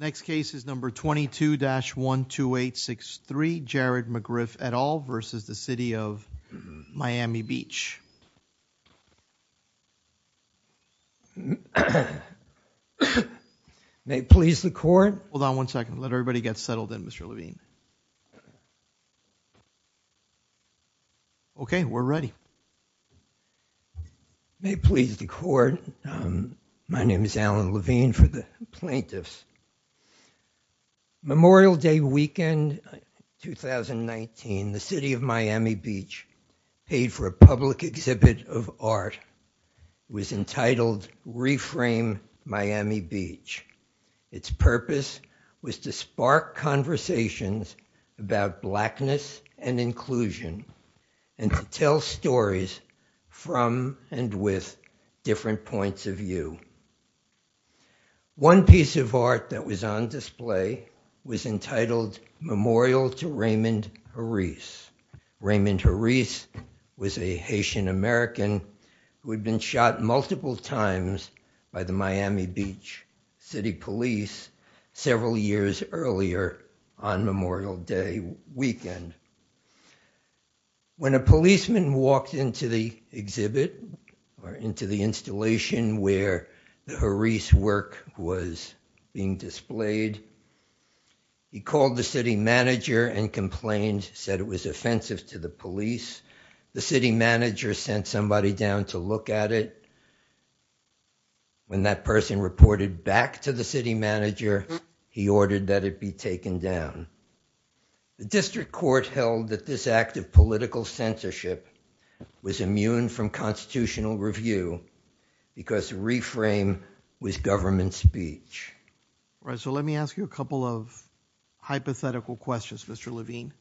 22-12863 Jared McGriff et al v. City of Miami Beach May it please the court Hold on one second, let everybody get settled in Mr. Levine Okay, we're ready May it please the court, my name is Alan Levine for the plaintiffs. Memorial Day Weekend 2019, the City of Miami Beach paid for a public exhibit of art. It was entitled Reframe Miami Beach. Its purpose was to spark conversations about blackness and inclusion and to tell stories from and with different points of view. One piece of art that was on display was entitled Memorial to Raymond Harris. Raymond Harris was a Haitian-American who had been shot multiple times by the Miami Beach City Police several years earlier on Memorial Day Weekend. When a policeman walked into the exhibit or into the installation where the Harris work was being displayed, he called the city manager and complained, said it was offensive to the police. The city manager sent somebody down to look at it. When that person reported back to the city manager, he The district court held that this act of political censorship was immune from constitutional review because reframe was government speech. Right, so let me ask you a couple of hypothetical questions, Mr. Levine.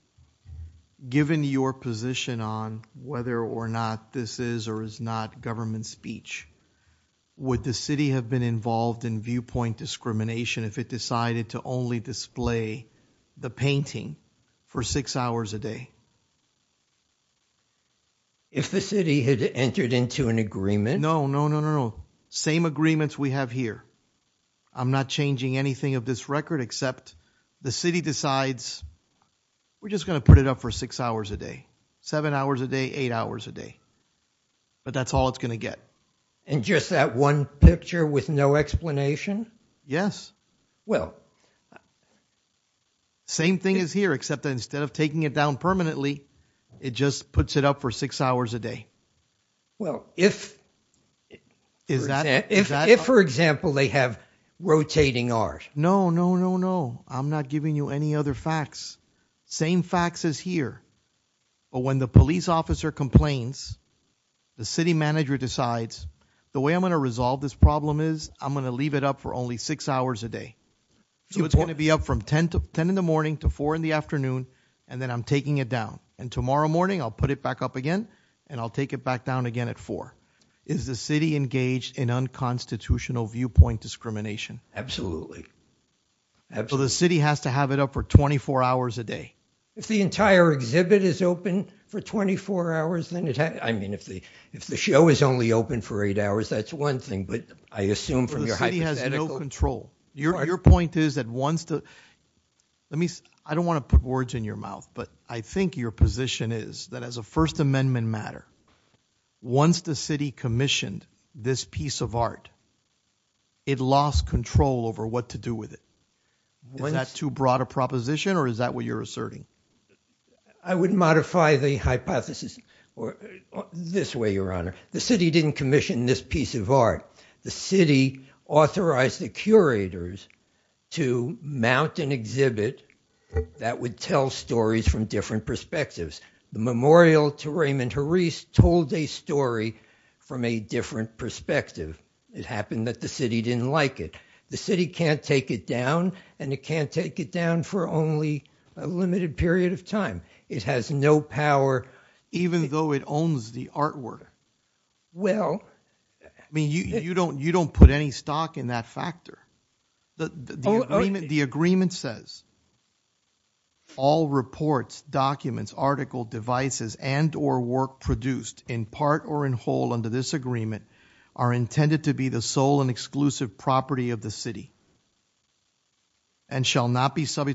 Given your position on whether or not this is or is not government speech, would the city have been involved in viewpoint discrimination if it decided to only display the painting for six hours a day? If the city had entered into an agreement? No, no, no, no, same agreements we have here. I'm not changing anything of this record except the city decides we're just gonna put it up for six hours a day, seven hours a day, eight hours a day, but that's all it's gonna get. And just that one picture with no explanation? Yes. Well, same thing is here except that instead of taking it down permanently, it just puts it up for six hours a day. Well, if for example they have rotating hours. No, no, no, no, I'm not giving you any other facts. Same facts as here, but when the police officer complains, the city manager decides the way I'm gonna resolve this problem is I'm gonna leave it up for only six hours a day. So it's going to be up from 10 in the morning to 4 in the afternoon and then I'm taking it down and tomorrow morning I'll put it back up again and I'll take it back down again at 4. Is the city engaged in unconstitutional viewpoint discrimination? Absolutely. So the city has to have it up for 24 hours a day? If the entire exhibit is open for 24 hours then it has, I mean, if the show is only open for eight hours, that's one thing, but I assume from your hypothetical. The city has no control. Your point is that once the, let me, I don't want to put words in your mouth, but I think your position is that as a First Amendment matter, once the city commissioned this piece of art, it lost control over what to do with it. Is that too broad a proposition or is that what you're asserting? I would modify the hypothesis this way, your honor. The city didn't commission this piece of art. The city authorized the curators to mount an exhibit that would tell stories from different perspectives. The memorial to Raymond Harris told a story from a different perspective. It happened that the city didn't like it. The city can't take it down and it can't take it down for only a limited period of time. It has no power. Even though it owns the art worker. Well. I mean, you don't put any stock in that factor. The agreement says all reports, documents, article, devices, and or work produced in part or in whole under this agreement are intended to be the sole and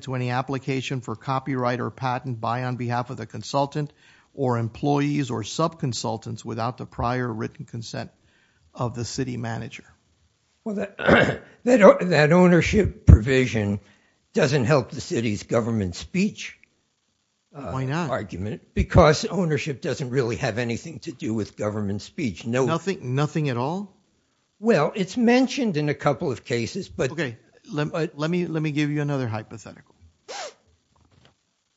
to any application for copyright or patent by on behalf of the consultant or employees or sub consultants without the prior written consent of the city manager. Well, that ownership provision doesn't help the city's government speech. Why not? Because ownership doesn't really have anything to do with government speech. Nothing at all? Well, it's mentioned in a couple of The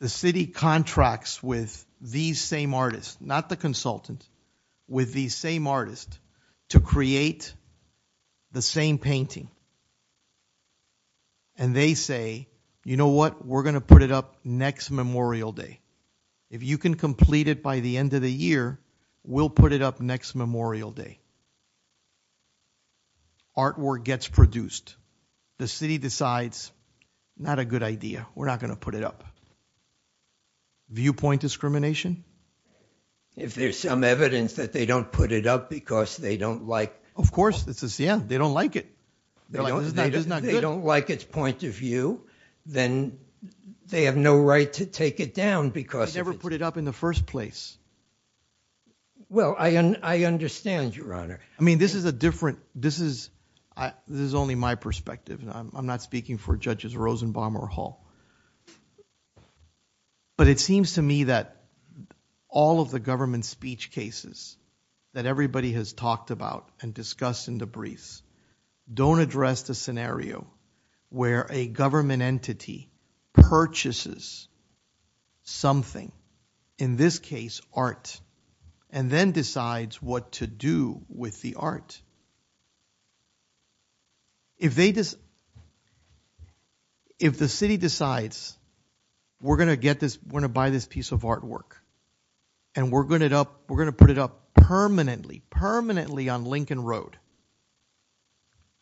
city contracts with these same artists, not the consultant, with these same artists to create the same painting. And they say, you know what? We're gonna put it up next Memorial Day. If you can complete it by the end of the year, we'll put it up next Memorial Day. Artwork gets produced. The city decides, not a good idea. We're not gonna put it up. Viewpoint discrimination? If there's some evidence that they don't put it up because they don't like. Of course, this is, yeah, they don't like it. They don't like its point of view, then they have no right to take it down because. They never put it up in the first place. Well, I understand, Your Honor. I mean, this is a different, this is, this is only my But it seems to me that all of the government speech cases that everybody has talked about and discussed in the briefs don't address the scenario where a government entity purchases something, in this case art, and then decides what to do with the art. If they just, if the city decides, we're gonna get this, we're gonna buy this piece of artwork, and we're gonna put it up permanently, permanently on Lincoln Road.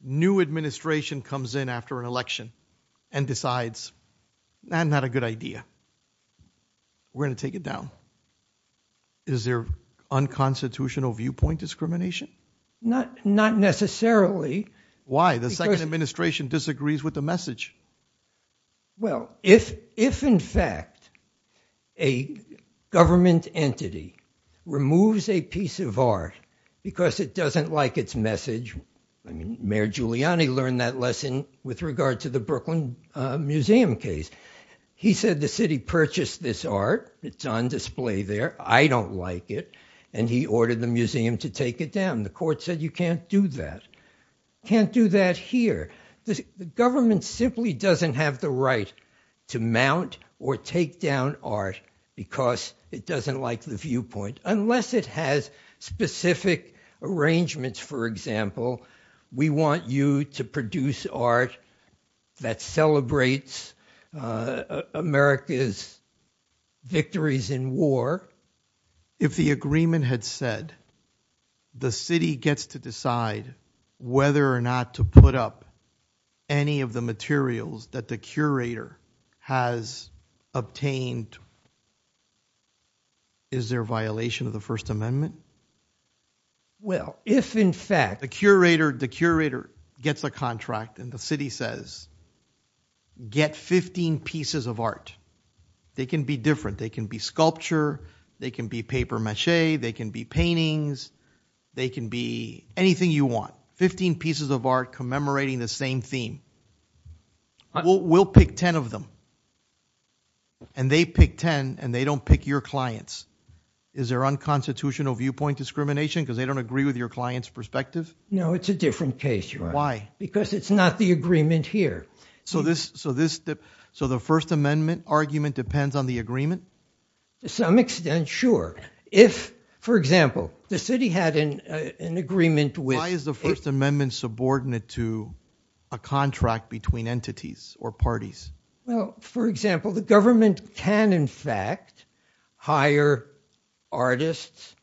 New administration comes in after an election and decides, not a good idea. We're gonna take it down. Is there unconstitutional viewpoint discrimination? Not necessarily. Why? The second administration disagrees with the message. Well, if, in fact, a government entity removes a piece of art because it doesn't like its message, I mean, Mayor Giuliani learned that lesson with regard to the Brooklyn Museum case. He said the ordered the museum to take it down. The court said you can't do that, can't do that here. The government simply doesn't have the right to mount or take down art because it doesn't like the viewpoint, unless it has specific arrangements. For example, we want you to produce art that celebrates America's victories in war. If the agreement had said the city gets to decide whether or not to put up any of the materials that the curator has obtained, is there a violation of the First Amendment? Well, if, in fact, the curator, the curator gets a contract and the city says, get 15 pieces of art. They can be different. They can be sculpture, they can be papier-mâché, they can be paintings, they can be anything you want. 15 pieces of art commemorating the same theme. We'll pick 10 of them and they pick 10 and they don't pick your clients. Is there unconstitutional viewpoint discrimination because they don't agree with your clients perspective? No, it's a different case. Why? Because it's not the agreement here. So this, so this, so the First Amendment argument depends on the agreement? To some extent, sure. If, for example, the city had an agreement with... Why is the First Amendment subordinate to a contract between entities or parties? Well, for example, the government can, in fact, hire artists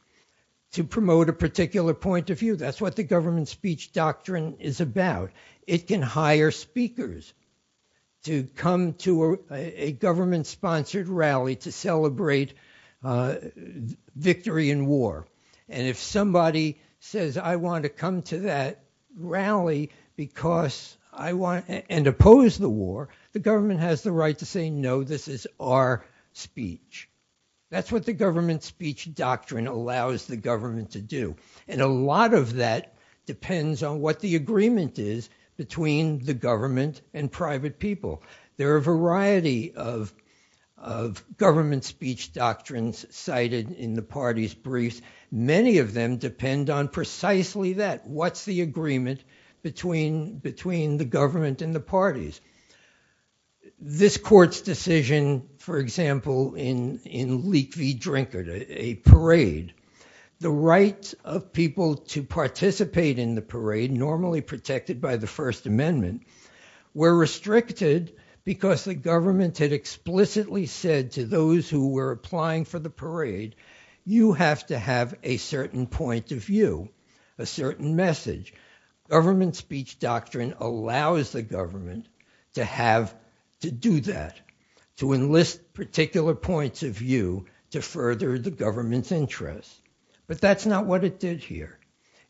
to promote a particular point of view. That's what the government-sponsored rally to celebrate victory in war. And if somebody says, I want to come to that rally because I want, and oppose the war, the government has the right to say, no, this is our speech. That's what the government speech doctrine allows the government to do. And a lot of that depends on what the majority of government speech doctrines cited in the party's briefs. Many of them depend on precisely that. What's the agreement between the government and the parties? This court's decision, for example, in Leak v. Drinkard, a parade, the right of people to participate in the parade, normally protected by the First Amendment, were restricted because the government had explicitly said to those who were applying for the parade, you have to have a certain point of view, a certain message. Government speech doctrine allows the government to have to do that, to enlist particular points of view to further the government's interests. But that's not what it did here.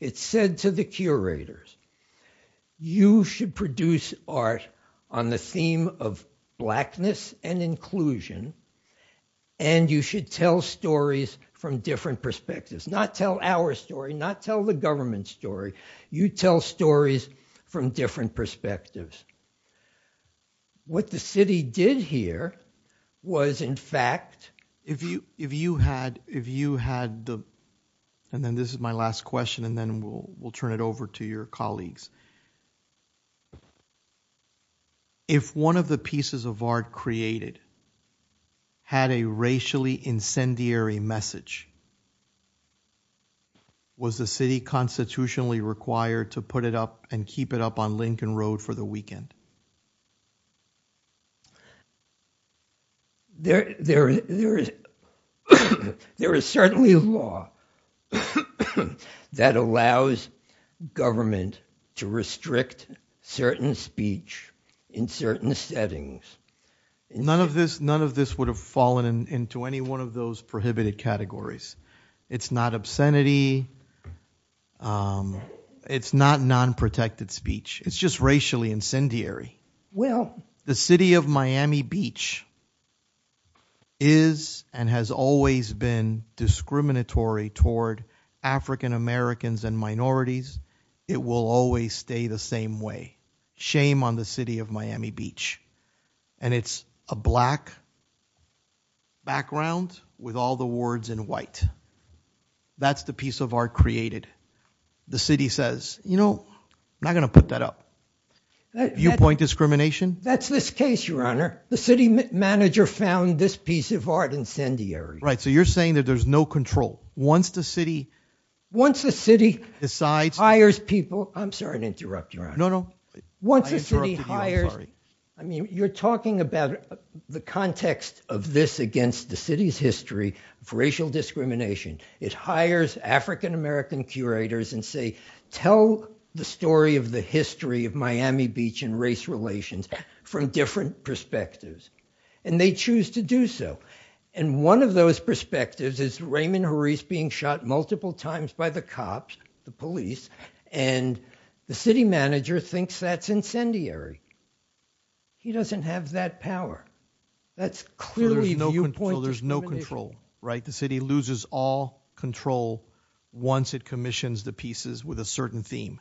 It said to the curators, you should produce art on the theme of blackness and inclusion, and you should tell stories from different perspectives. Not tell our story, not tell the government story, you tell stories from different perspectives. What the city did here was, in fact, if you had the, and then this is my last question, and then we'll turn it over to your colleagues. If one of the pieces of art created had a racially incendiary message, was the city constitutionally required to put it up and keep it up on Lincoln Road for the That allows government to restrict certain speech in certain settings. None of this would have fallen into any one of those prohibited categories. It's not obscenity, it's not non-protected speech, it's just racially incendiary. The city of Miami Beach is, and has always been, discriminatory toward African-Americans and minorities. It will always stay the same way. Shame on the city of Miami Beach. And it's a black background with all the words in white. That's the piece of art created. The city says, you know, I'm not gonna put that up. You point discrimination? That's this case, your honor. The city manager found this piece of art incendiary. Right, so you're saying that there's no control once the city decides. Once the city hires people, I'm sorry to interrupt you, your honor. No, no. Once the city hires, I mean, you're talking about the context of this against the city's history for racial discrimination. It hires African-American curators and say, tell the story of the history of Miami Beach and race relations from different perspectives. And they choose to do so. And one of those perspectives is Raymond Harris being shot multiple times by the cops, the police, and the city manager thinks that's incendiary. He doesn't have that power. That's clearly viewpoint discrimination. So there's no control, right? The city loses all control once it commissions the pieces with a certain theme.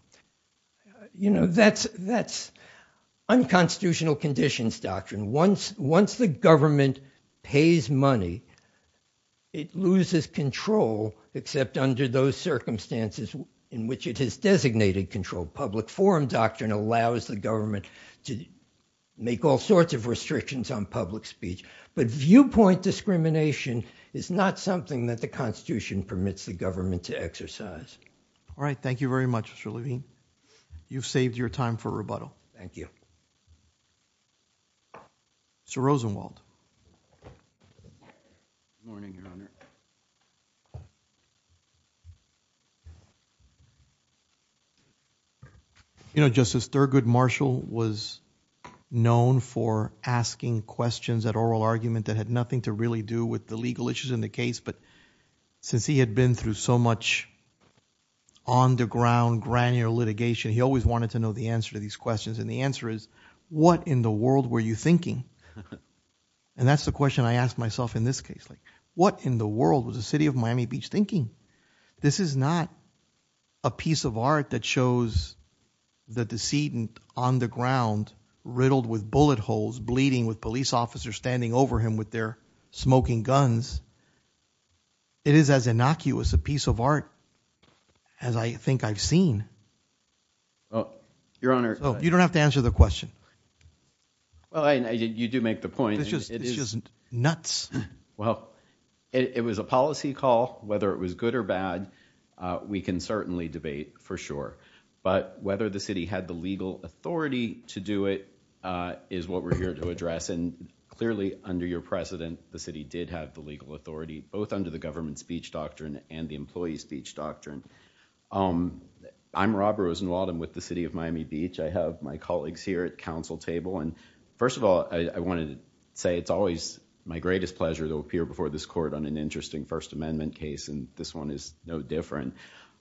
You know, that's unconstitutional conditions doctrine. Once the government pays money, it loses control except under those circumstances in which it has designated control. Public forum doctrine allows the government to make all sorts of restrictions on public speech. But viewpoint discrimination is not something that the Constitution permits the government to exercise. All right, Mr. Rosenwald. You know, Justice Thurgood Marshall was known for asking questions at oral argument that had nothing to really do with the legal issues in the case. But since he had been through so much on the ground, granular litigation, he always wanted to know the answer to these questions. And the answer is, what in the world were you thinking? And that's the question I asked myself in this case. Like, what in the world was the city of Miami Beach thinking? This is not a piece of art that shows the decedent on the ground riddled with bullet holes, bleeding, with police officers standing over him with their smoking guns. It is as innocuous a piece of art as I think I've seen. You don't have to answer the question. Well, you do make the point. It's just nuts. Well, it was a policy call. Whether it was good or bad, we can certainly debate for sure. But whether the city had the legal authority to do it is what we're here to address. And clearly, under your precedent, the city did have the legal authority, both under the government speech doctrine and the employee speech doctrine. I'm Robert Rosenwald. I'm with the city of Miami Beach. I have my colleagues here at council table. And first of all, I wanted to say it's always my greatest pleasure to appear before this court on an interesting First Amendment case. And this one is no different.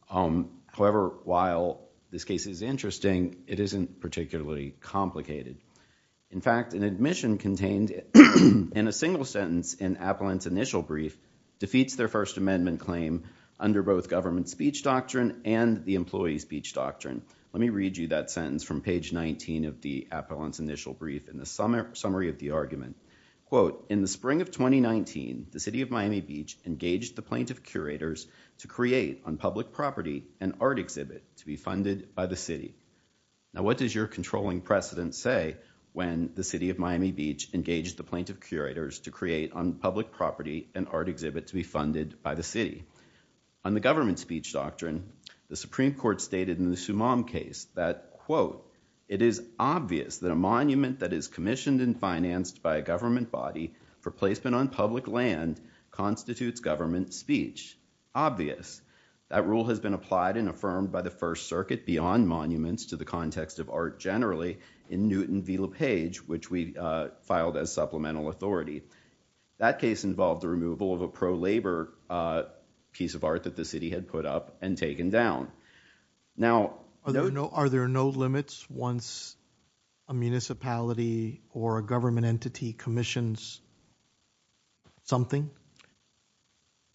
However, while this case is interesting, it isn't particularly complicated. In fact, an admission contained in a single sentence in Appellant's initial brief defeats their First Amendment claim under both government speech doctrine and the employee speech doctrine. Let me read you that sentence from page 19 of the Appellant's initial brief in the summary of the argument. Quote, in the spring of 2019, the city of Miami Beach engaged the plaintiff curators to create on public property an art exhibit to be funded by the city. Now, what does your controlling precedent say when the city of Miami Beach engaged the plaintiff curators to create on public property an art exhibit to be funded by the city? On the government speech doctrine, the Supreme Court stated in the Sumam case that, quote, it is obvious that a monument that is commissioned and financed by a government body for placement on public land constitutes government speech. Obvious. That rule has been applied and affirmed by the First Circuit beyond monuments to the context of art generally in Newton v. LaPage, which we filed as supplemental authority. That case involved the removal of a pro-labor piece of art that the city had put up and taken down. Now, are there no limits once a municipality or a government entity commissions something?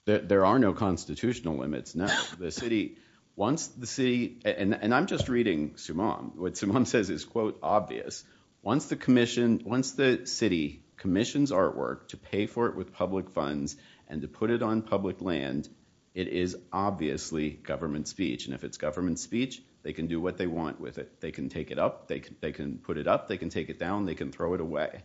There are no constitutional limits. Now, the city, once the city, and I'm just reading Sumam, what Sumam says is, quote, obvious. Once the commission, once the city commissions artwork to pay for it with public funds and to put it on public land, it is obviously government speech. And if it's government speech, they can do what they want with it. They can take it up, they can put it up, they can take it down, they can throw it away.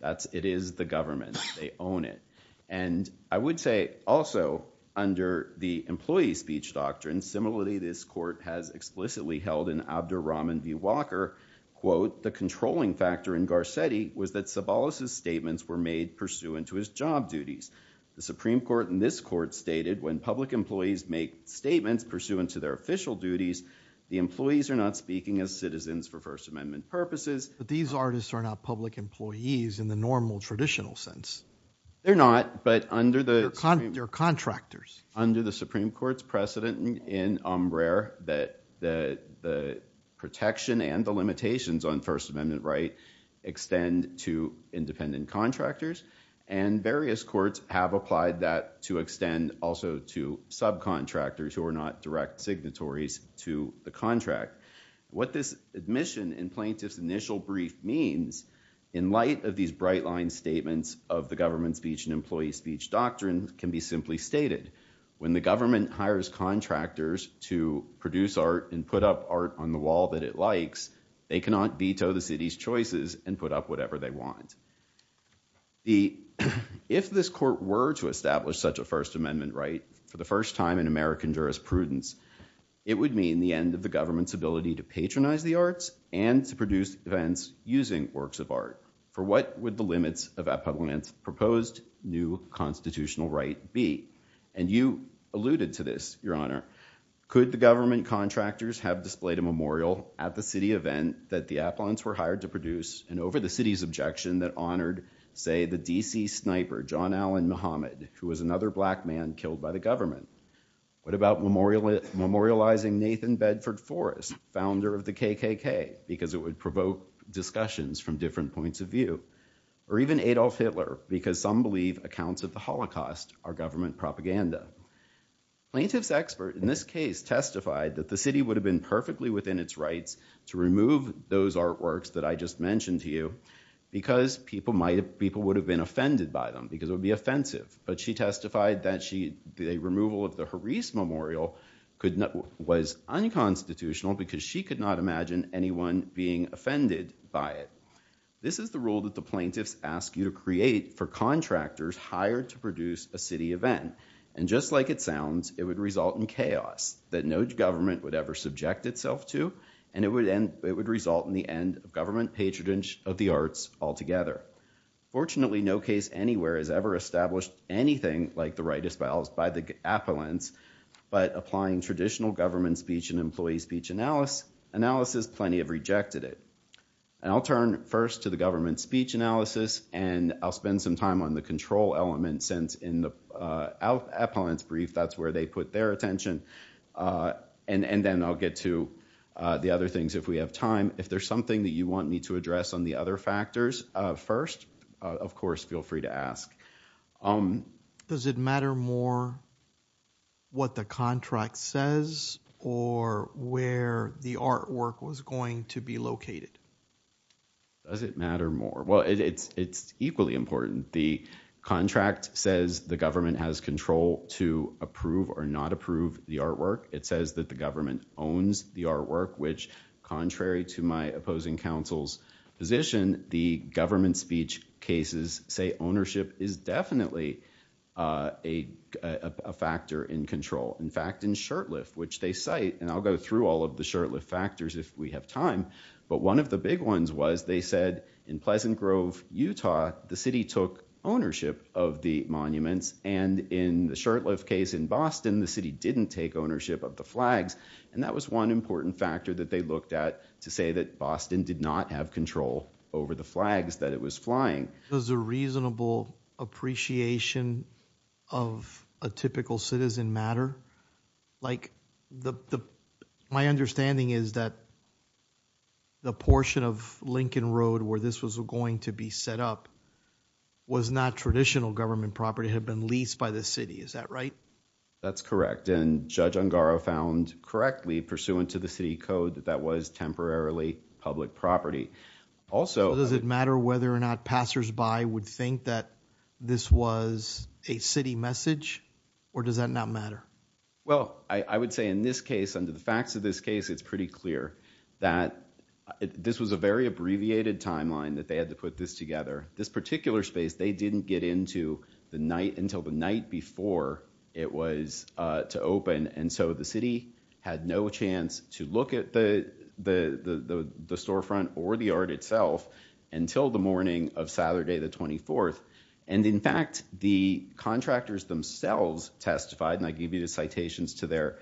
That's, it is the government. They own it. And I would say also, under the employee speech doctrine, similarly this court has under Rahman v. Walker, quote, the controlling factor in Garcetti was that Sobolos' statements were made pursuant to his job duties. The Supreme Court in this court stated when public employees make statements pursuant to their official duties, the employees are not speaking as citizens for First Amendment purposes. But these artists are not public employees in the normal traditional sense. They're not, but under the... They're contractors. Under the protection and the limitations on First Amendment right extend to independent contractors. And various courts have applied that to extend also to subcontractors who are not direct signatories to the contract. What this admission in plaintiff's initial brief means, in light of these bright line statements of the government speech and employee speech doctrine can be simply stated. When the government hires contractors to produce art and put up art on the wall that it likes, they cannot veto the city's choices and put up whatever they want. If this court were to establish such a First Amendment right for the first time in American jurisprudence, it would mean the end of the government's ability to patronize the arts and to produce events using works of art. For what would the limits of that public land's proposed new constitutional right be? And you alluded to this, Your Honor. Could the government create a memorial at the city event that the Appalachians were hired to produce and over the city's objection that honored, say, the DC sniper, John Allen Muhammad, who was another black man killed by the government? What about memorializing Nathan Bedford Forrest, founder of the KKK, because it would provoke discussions from different points of view? Or even Adolf Hitler, because some believe accounts of the Holocaust are government propaganda. Plaintiff's expert in this case testified that the city would have been perfectly within its rights to remove those artworks that I just mentioned to you, because people might have people would have been offended by them because it would be offensive. But she testified that she did a removal of the Harris Memorial could not was unconstitutional because she could not imagine anyone being offended by it. This is the rule that the plaintiffs ask you to create for contractors hired to produce a city event. And just like it itself to, and it would end, it would result in the end of government patronage of the arts altogether. Fortunately, no case anywhere has ever established anything like the right espoused by the appellants. But applying traditional government speech and employee speech analysis, plenty have rejected it. And I'll turn first to the government speech analysis. And I'll spend some time on the control element since in the appellants brief, that's where they put their attention. And then I'll get to the other things. If we have time, if there's something that you want me to address on the other factors first, of course, feel free to ask. Does it matter more what the contract says or where the artwork was going to be located? Does it matter more? Well, it's it's equally important. The contract says the government can approve or not approve the artwork. It says that the government owns the artwork, which, contrary to my opposing counsel's position, the government speech cases say ownership is definitely a factor in control. In fact, in Shurtleff, which they cite, and I'll go through all of the Shurtleff factors if we have time. But one of the big ones was they said, in Pleasant Grove, Utah, the city took ownership of the monuments. And in the Shurtleff case in Boston, the city didn't take ownership of the flags. And that was one important factor that they looked at to say that Boston did not have control over the flags that it was flying. It was a reasonable appreciation of a typical citizen matter. Like the my understanding is that the portion of Lincoln Road where this was going to be set up was not traditional government property had been leased by the city. Is that right? That's correct. And Judge Ungaro found correctly pursuant to the city code that that was temporarily public property. Also, does it matter whether or not passersby would think that this was a city message or does that not matter? Well, I would say in this case, under the facts of this case, it's pretty clear that this was a very abbreviated timeline that they had to put this together. This particular space, they didn't get into the night until the night before it was to open. And so the city had no chance to look at the storefront or the art itself until the morning of Saturday, the 24th. And in fact, the contractors themselves testified and I give you the citations to their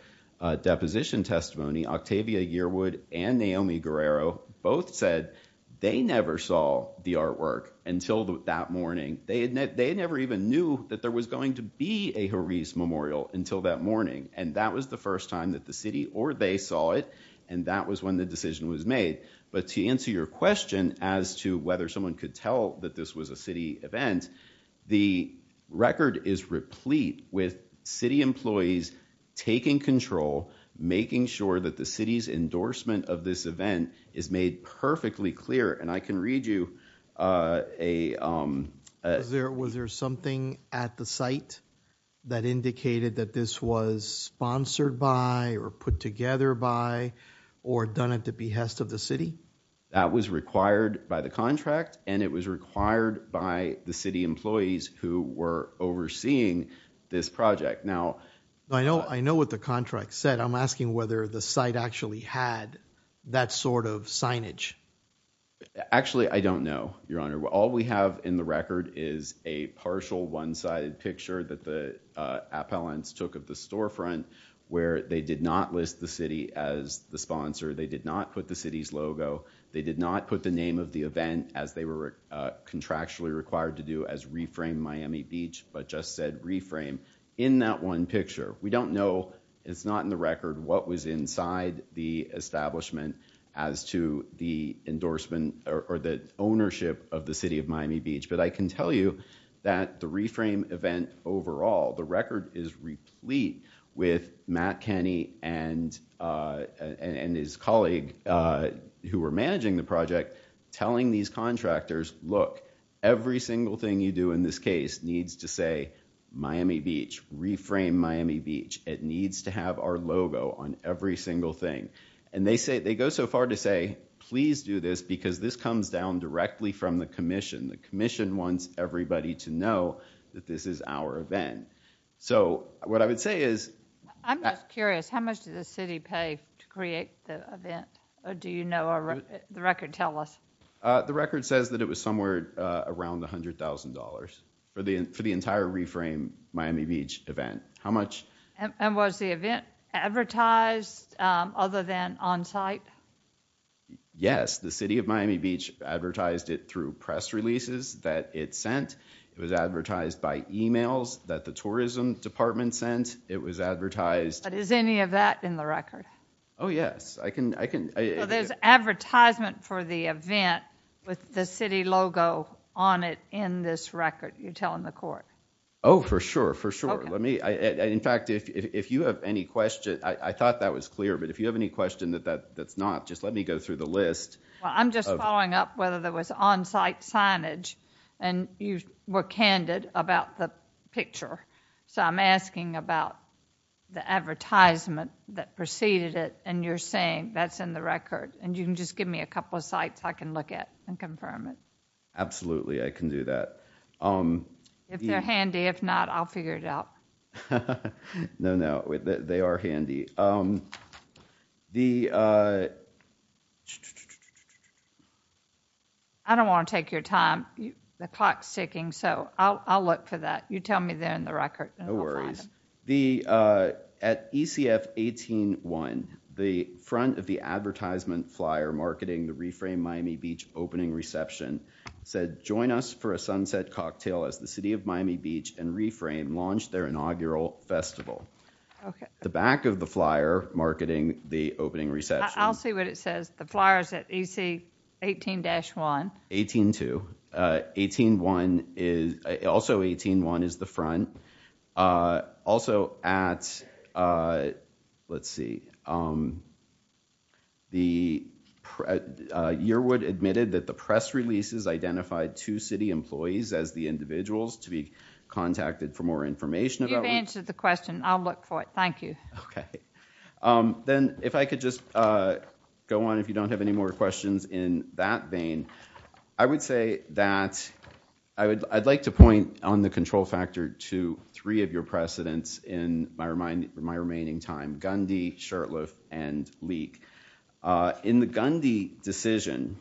deposition testimony, Octavia Yearwood and Naomi Guerrero both said they never saw the artwork until that morning. They had they never even knew that there was going to be a Haris memorial until that morning. And that was the first time that the city or they saw it. And that was when the decision was made. But to answer your question as to whether someone could tell that this was a city event, the record is replete with city employees taking control, making sure that the city's endorsement of this event is made perfectly clear. And I can read you a there. Was there something at the site that indicated that this was sponsored by or put together by or done at the behest of the city that was required by the contract? And it was Now, I know I know what the contract said. I'm asking whether the site actually had that sort of signage. Actually, I don't know, Your Honor. All we have in the record is a partial one sided picture that the appellants took of the storefront where they did not list the city as the sponsor. They did not put the city's logo. They did not put the name of the event as they were contractually required to do as reframe Miami Beach, but just said reframe in that one picture. We don't know. It's not in the record what was inside the establishment as to the endorsement or the ownership of the city of Miami Beach. But I can tell you that the reframe event overall, the record is replete with Matt Kenny and and his colleague who were managing the project telling these every single thing you do in this case needs to say Miami Beach, reframe Miami Beach. It needs to have our logo on every single thing. And they say they go so far to say please do this because this comes down directly from the Commission. The Commission wants everybody to know that this is our event. So what I would say is I'm curious how much did the city pay to create the event? Do you know? The record tell us. The record says that it was somewhere around $100,000 for the for the entire reframe Miami Beach event. How much? And was the event advertised other than on-site? Yes, the city of Miami Beach advertised it through press releases that it sent. It was advertised by emails that the tourism department sent. It was advertised. But is any of that in the record? Oh yes, I can I can. There's advertisement for the event with the city logo on it in this record you're telling the court. Oh for sure, for sure. Let me in fact if you have any question I thought that was clear but if you have any question that that that's not just let me go through the list. I'm just following up whether there was on-site signage and you were candid about the picture so I'm asking about the advertisement that preceded it and you're saying that's in the record and you can just give me a couple of sites I can look at and confirm it. Absolutely, I can do that. If they're handy, if not I'll figure it out. No, no, they are handy. I don't want to take your time. The clock's ticking so I'll look for that. You tell me there in the record. No worries. At ECF 18-1, the front of the advertisement flyer marketing the Reframe Miami Beach opening reception said join us for a sunset cocktail as the City of Miami Beach and Reframe launched their inaugural festival. The back of the flyer marketing the opening reception. I'll see what it says the flyers at EC 18-1. 18-2. 18-1 is also 18-1 Yearwood admitted that the press releases identified two city employees as the individuals to be contacted for more information. You've answered the question, I'll look for it, thank you. Okay, then if I could just go on if you don't have any more questions in that vein. I would say that I would I'd like to point on the control factor to three of your precedents in my remaining time. Gundy, Shurtleff, and Leake. In the Gundy decision,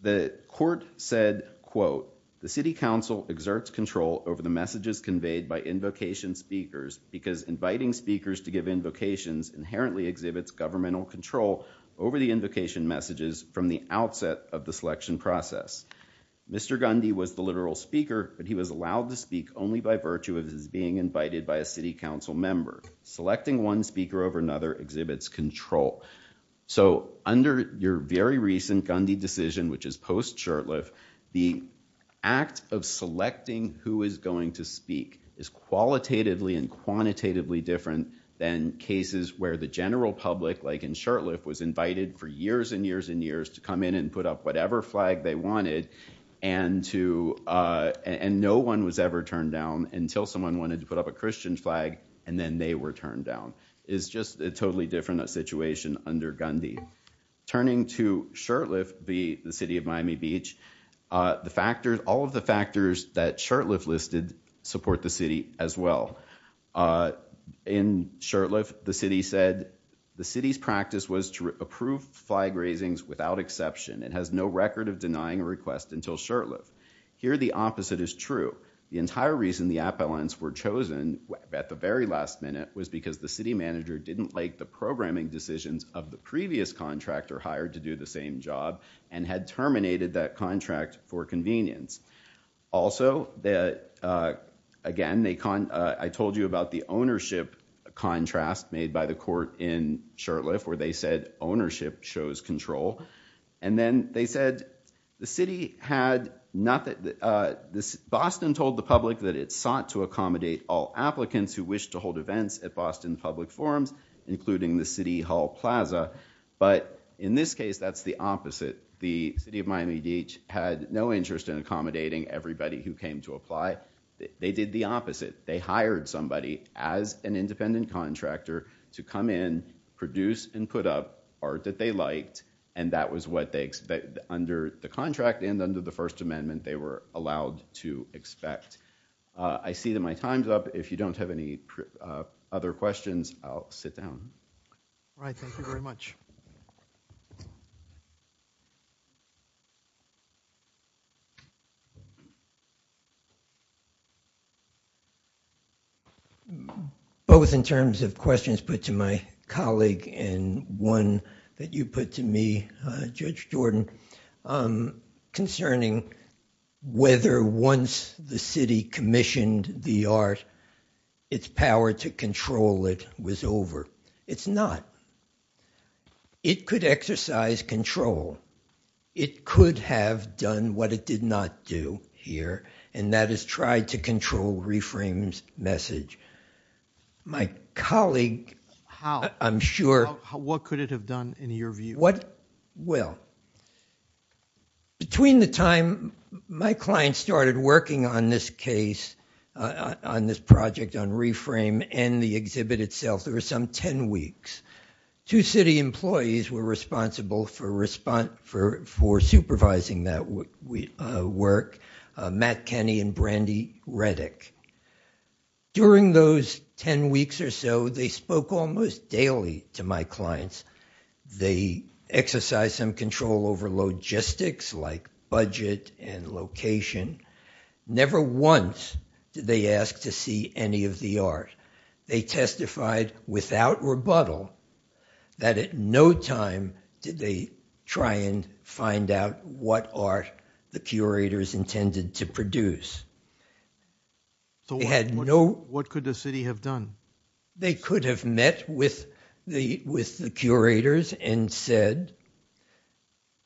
the court said, quote, the City Council exerts control over the messages conveyed by invocation speakers because inviting speakers to give invocations inherently exhibits governmental control over the invocation messages from the outset of the selection process. Mr. Gundy was the literal speaker but he was allowed to speak only by virtue of being invited by a City Council member. Selecting one speaker over another exhibits control. So under your very recent Gundy decision which is post-Shurtleff, the act of selecting who is going to speak is qualitatively and quantitatively different than cases where the general public like in Shurtleff was invited for years and years and years to come in and no one was ever turned down until someone wanted to put up a Christian flag and then they were turned down. It's just a totally different situation under Gundy. Turning to Shurtleff, the city of Miami Beach, all of the factors that Shurtleff listed support the city as well. In Shurtleff, the city said the city's practice was to approve flag raisings without exception. It has no record of denying a request until Shurtleff. Here the opposite is true. The entire reason the appellants were chosen at the very last minute was because the city manager didn't like the programming decisions of the previous contractor hired to do the same job and had terminated that contract for convenience. Also, again, I told you about the ownership contrast made by the city. Boston told the public that it sought to accommodate all applicants who wish to hold events at Boston Public Forums, including the City Hall Plaza, but in this case that's the opposite. The city of Miami Beach had no interest in accommodating everybody who came to apply. They did the opposite. They hired somebody as an independent contractor to come in, produce, and put up art that they liked, and that was what they expected under the contract and under the First Amendment they were allowed to expect. I see that my time's up. If you don't have any other questions, I'll sit down. All right, thank you very much. Both in terms of questions put to my colleague and one that you put to me, Judge Jordan, concerning whether once the city commissioned the art, its power to exercise control, it could have done what it did not do here, and that is try to control ReFrame's message. My colleague, I'm sure... What could it have done in your view? Well, between the time my client started working on this case, on this project on ReFrame and the exhibit itself, there were some ten weeks. Two city employees were responsible for supervising that work, Matt Kenney and Brandy Reddick. During those ten weeks or so, they spoke almost daily to my clients. They exercised some control over logistics like budget and location. Never once did they ask to see any of the art. They testified without rebuttal that at no time did they try and find out what art the curators intended to produce. What could the city have done? They could have met with the curators and said,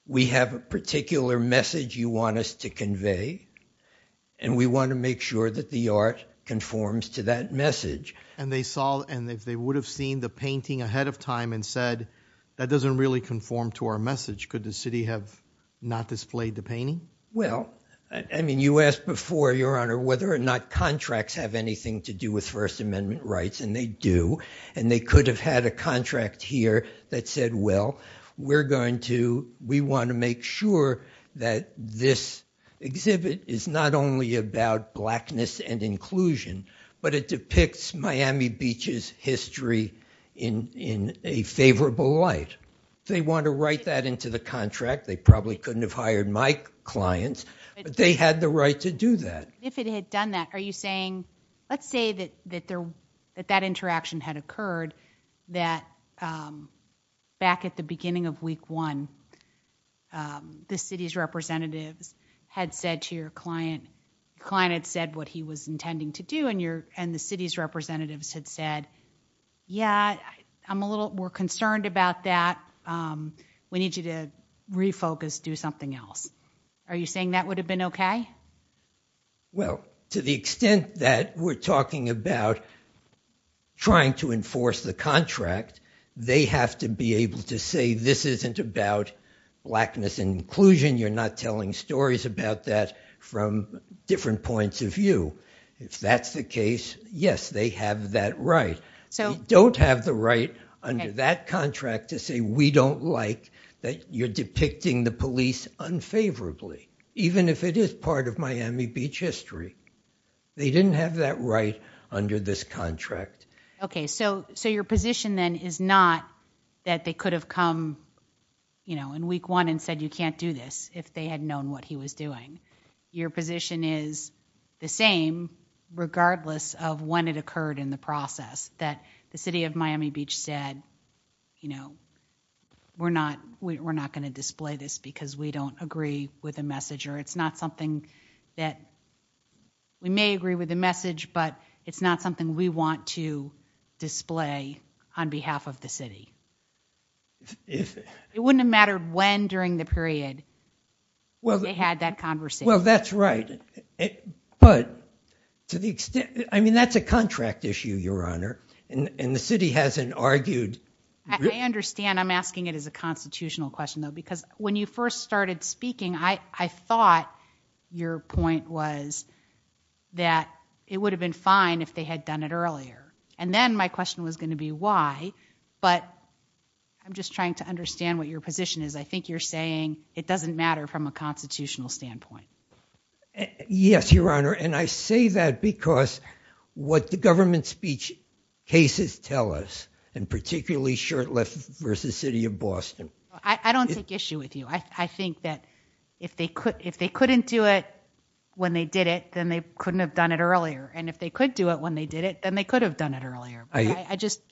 we have a particular message you want us to convey, and we want to make sure that the art conforms to that message. And if they would have seen the painting ahead of time and said, that doesn't really conform to our message, could the city have not displayed the painting? Well, I mean, you asked before, your honor, whether or not contracts have anything to do with First Amendment rights, and they do, and they could have had a contract here that said, well, we want to make sure that this exhibit is not only about blackness and inclusion, but it depicts Miami Beach's history in a favorable light. If they want to write that into the contract, they probably couldn't have hired my clients, but they had the right to do that. If it had done that, are you saying, let's say that that interaction had occurred, that back at the beginning of week one, the city's representatives had said to your client, the client had said what he was intending to do, and the city's representatives had said, yeah, I'm a little more concerned about that, we need you to refocus, do something else. Are you saying that would have been okay? Well, to the extent that we're talking about trying to enforce the contract, they have to be able to say, this isn't about blackness and inclusion, you're not telling stories about that from different points of view. If that's the case, yes, they have that right. They don't have the right under that contract to say, we don't like that you're depicting the police unfavorably, even if it is part of Miami Beach history. They didn't have that right under this contract. Okay, so your position then is not that they could have come in week one and said, you can't do this, if they had known what he was doing. Your position is the same, regardless of when it occurred in the process, that the city of Miami Beach said, you know, we're not going to display this because we don't agree with a message, or it's not something that, we may agree with the message, but it's not something we want to display on behalf of the city. It wouldn't have mattered when during the period, well, they had that conversation. Well, that's right, but to the extent, I mean, that's a contract issue, Your Honor, and the city hasn't argued. I understand, I'm asking it as a constitutional question, though, because when you first started speaking, I thought your point was that it would have been fine if they had done it earlier. I'm just trying to understand what your position is. I think you're saying it doesn't matter from a constitutional standpoint. Yes, Your Honor, and I say that because what the government speech cases tell us, and particularly Shirtleft versus City of Boston. I don't take issue with you. I think that if they couldn't do it when they did it, then they couldn't have done it earlier, and if they could do it when they did it, then they could have done it earlier.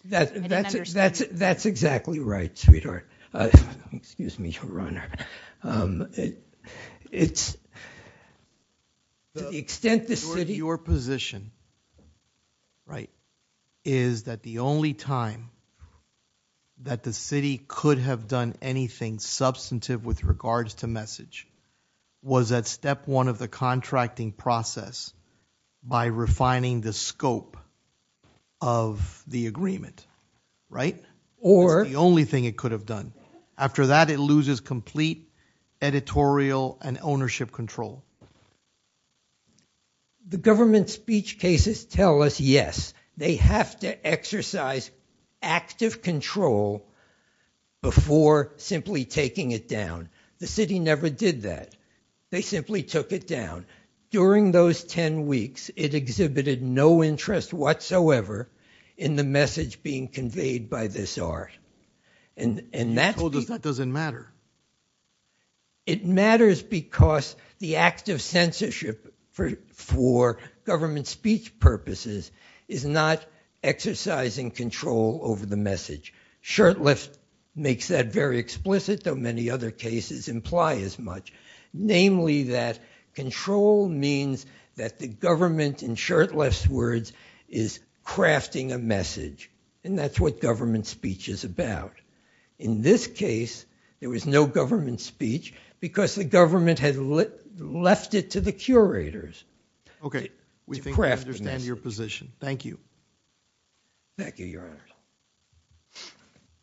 That's exactly right, sweetheart. Excuse me, Your Honor. Your position is that the only time that the city could have done anything substantive with regards to message was at step one of the contracting process by refining the scope of the agreement, right? Or the only thing it could have done. After that, it loses complete editorial and ownership control. The government speech cases tell us, yes, they have to exercise active control before simply taking it down. The city never did that. They simply took it down. During those ten weeks, it exhibited no interest whatsoever in the message being conveyed by this art. You told us that doesn't matter. It matters because the act of censorship for government speech purposes is not exercising control over the message. Shirtleft makes that very explicit, though many other cases imply as much. Namely, that control means that the government, in Shirtleft's words, is crafting a message, and that's what government speech is about. In this case, there was no government speech because the government had left it to the curators. Okay, we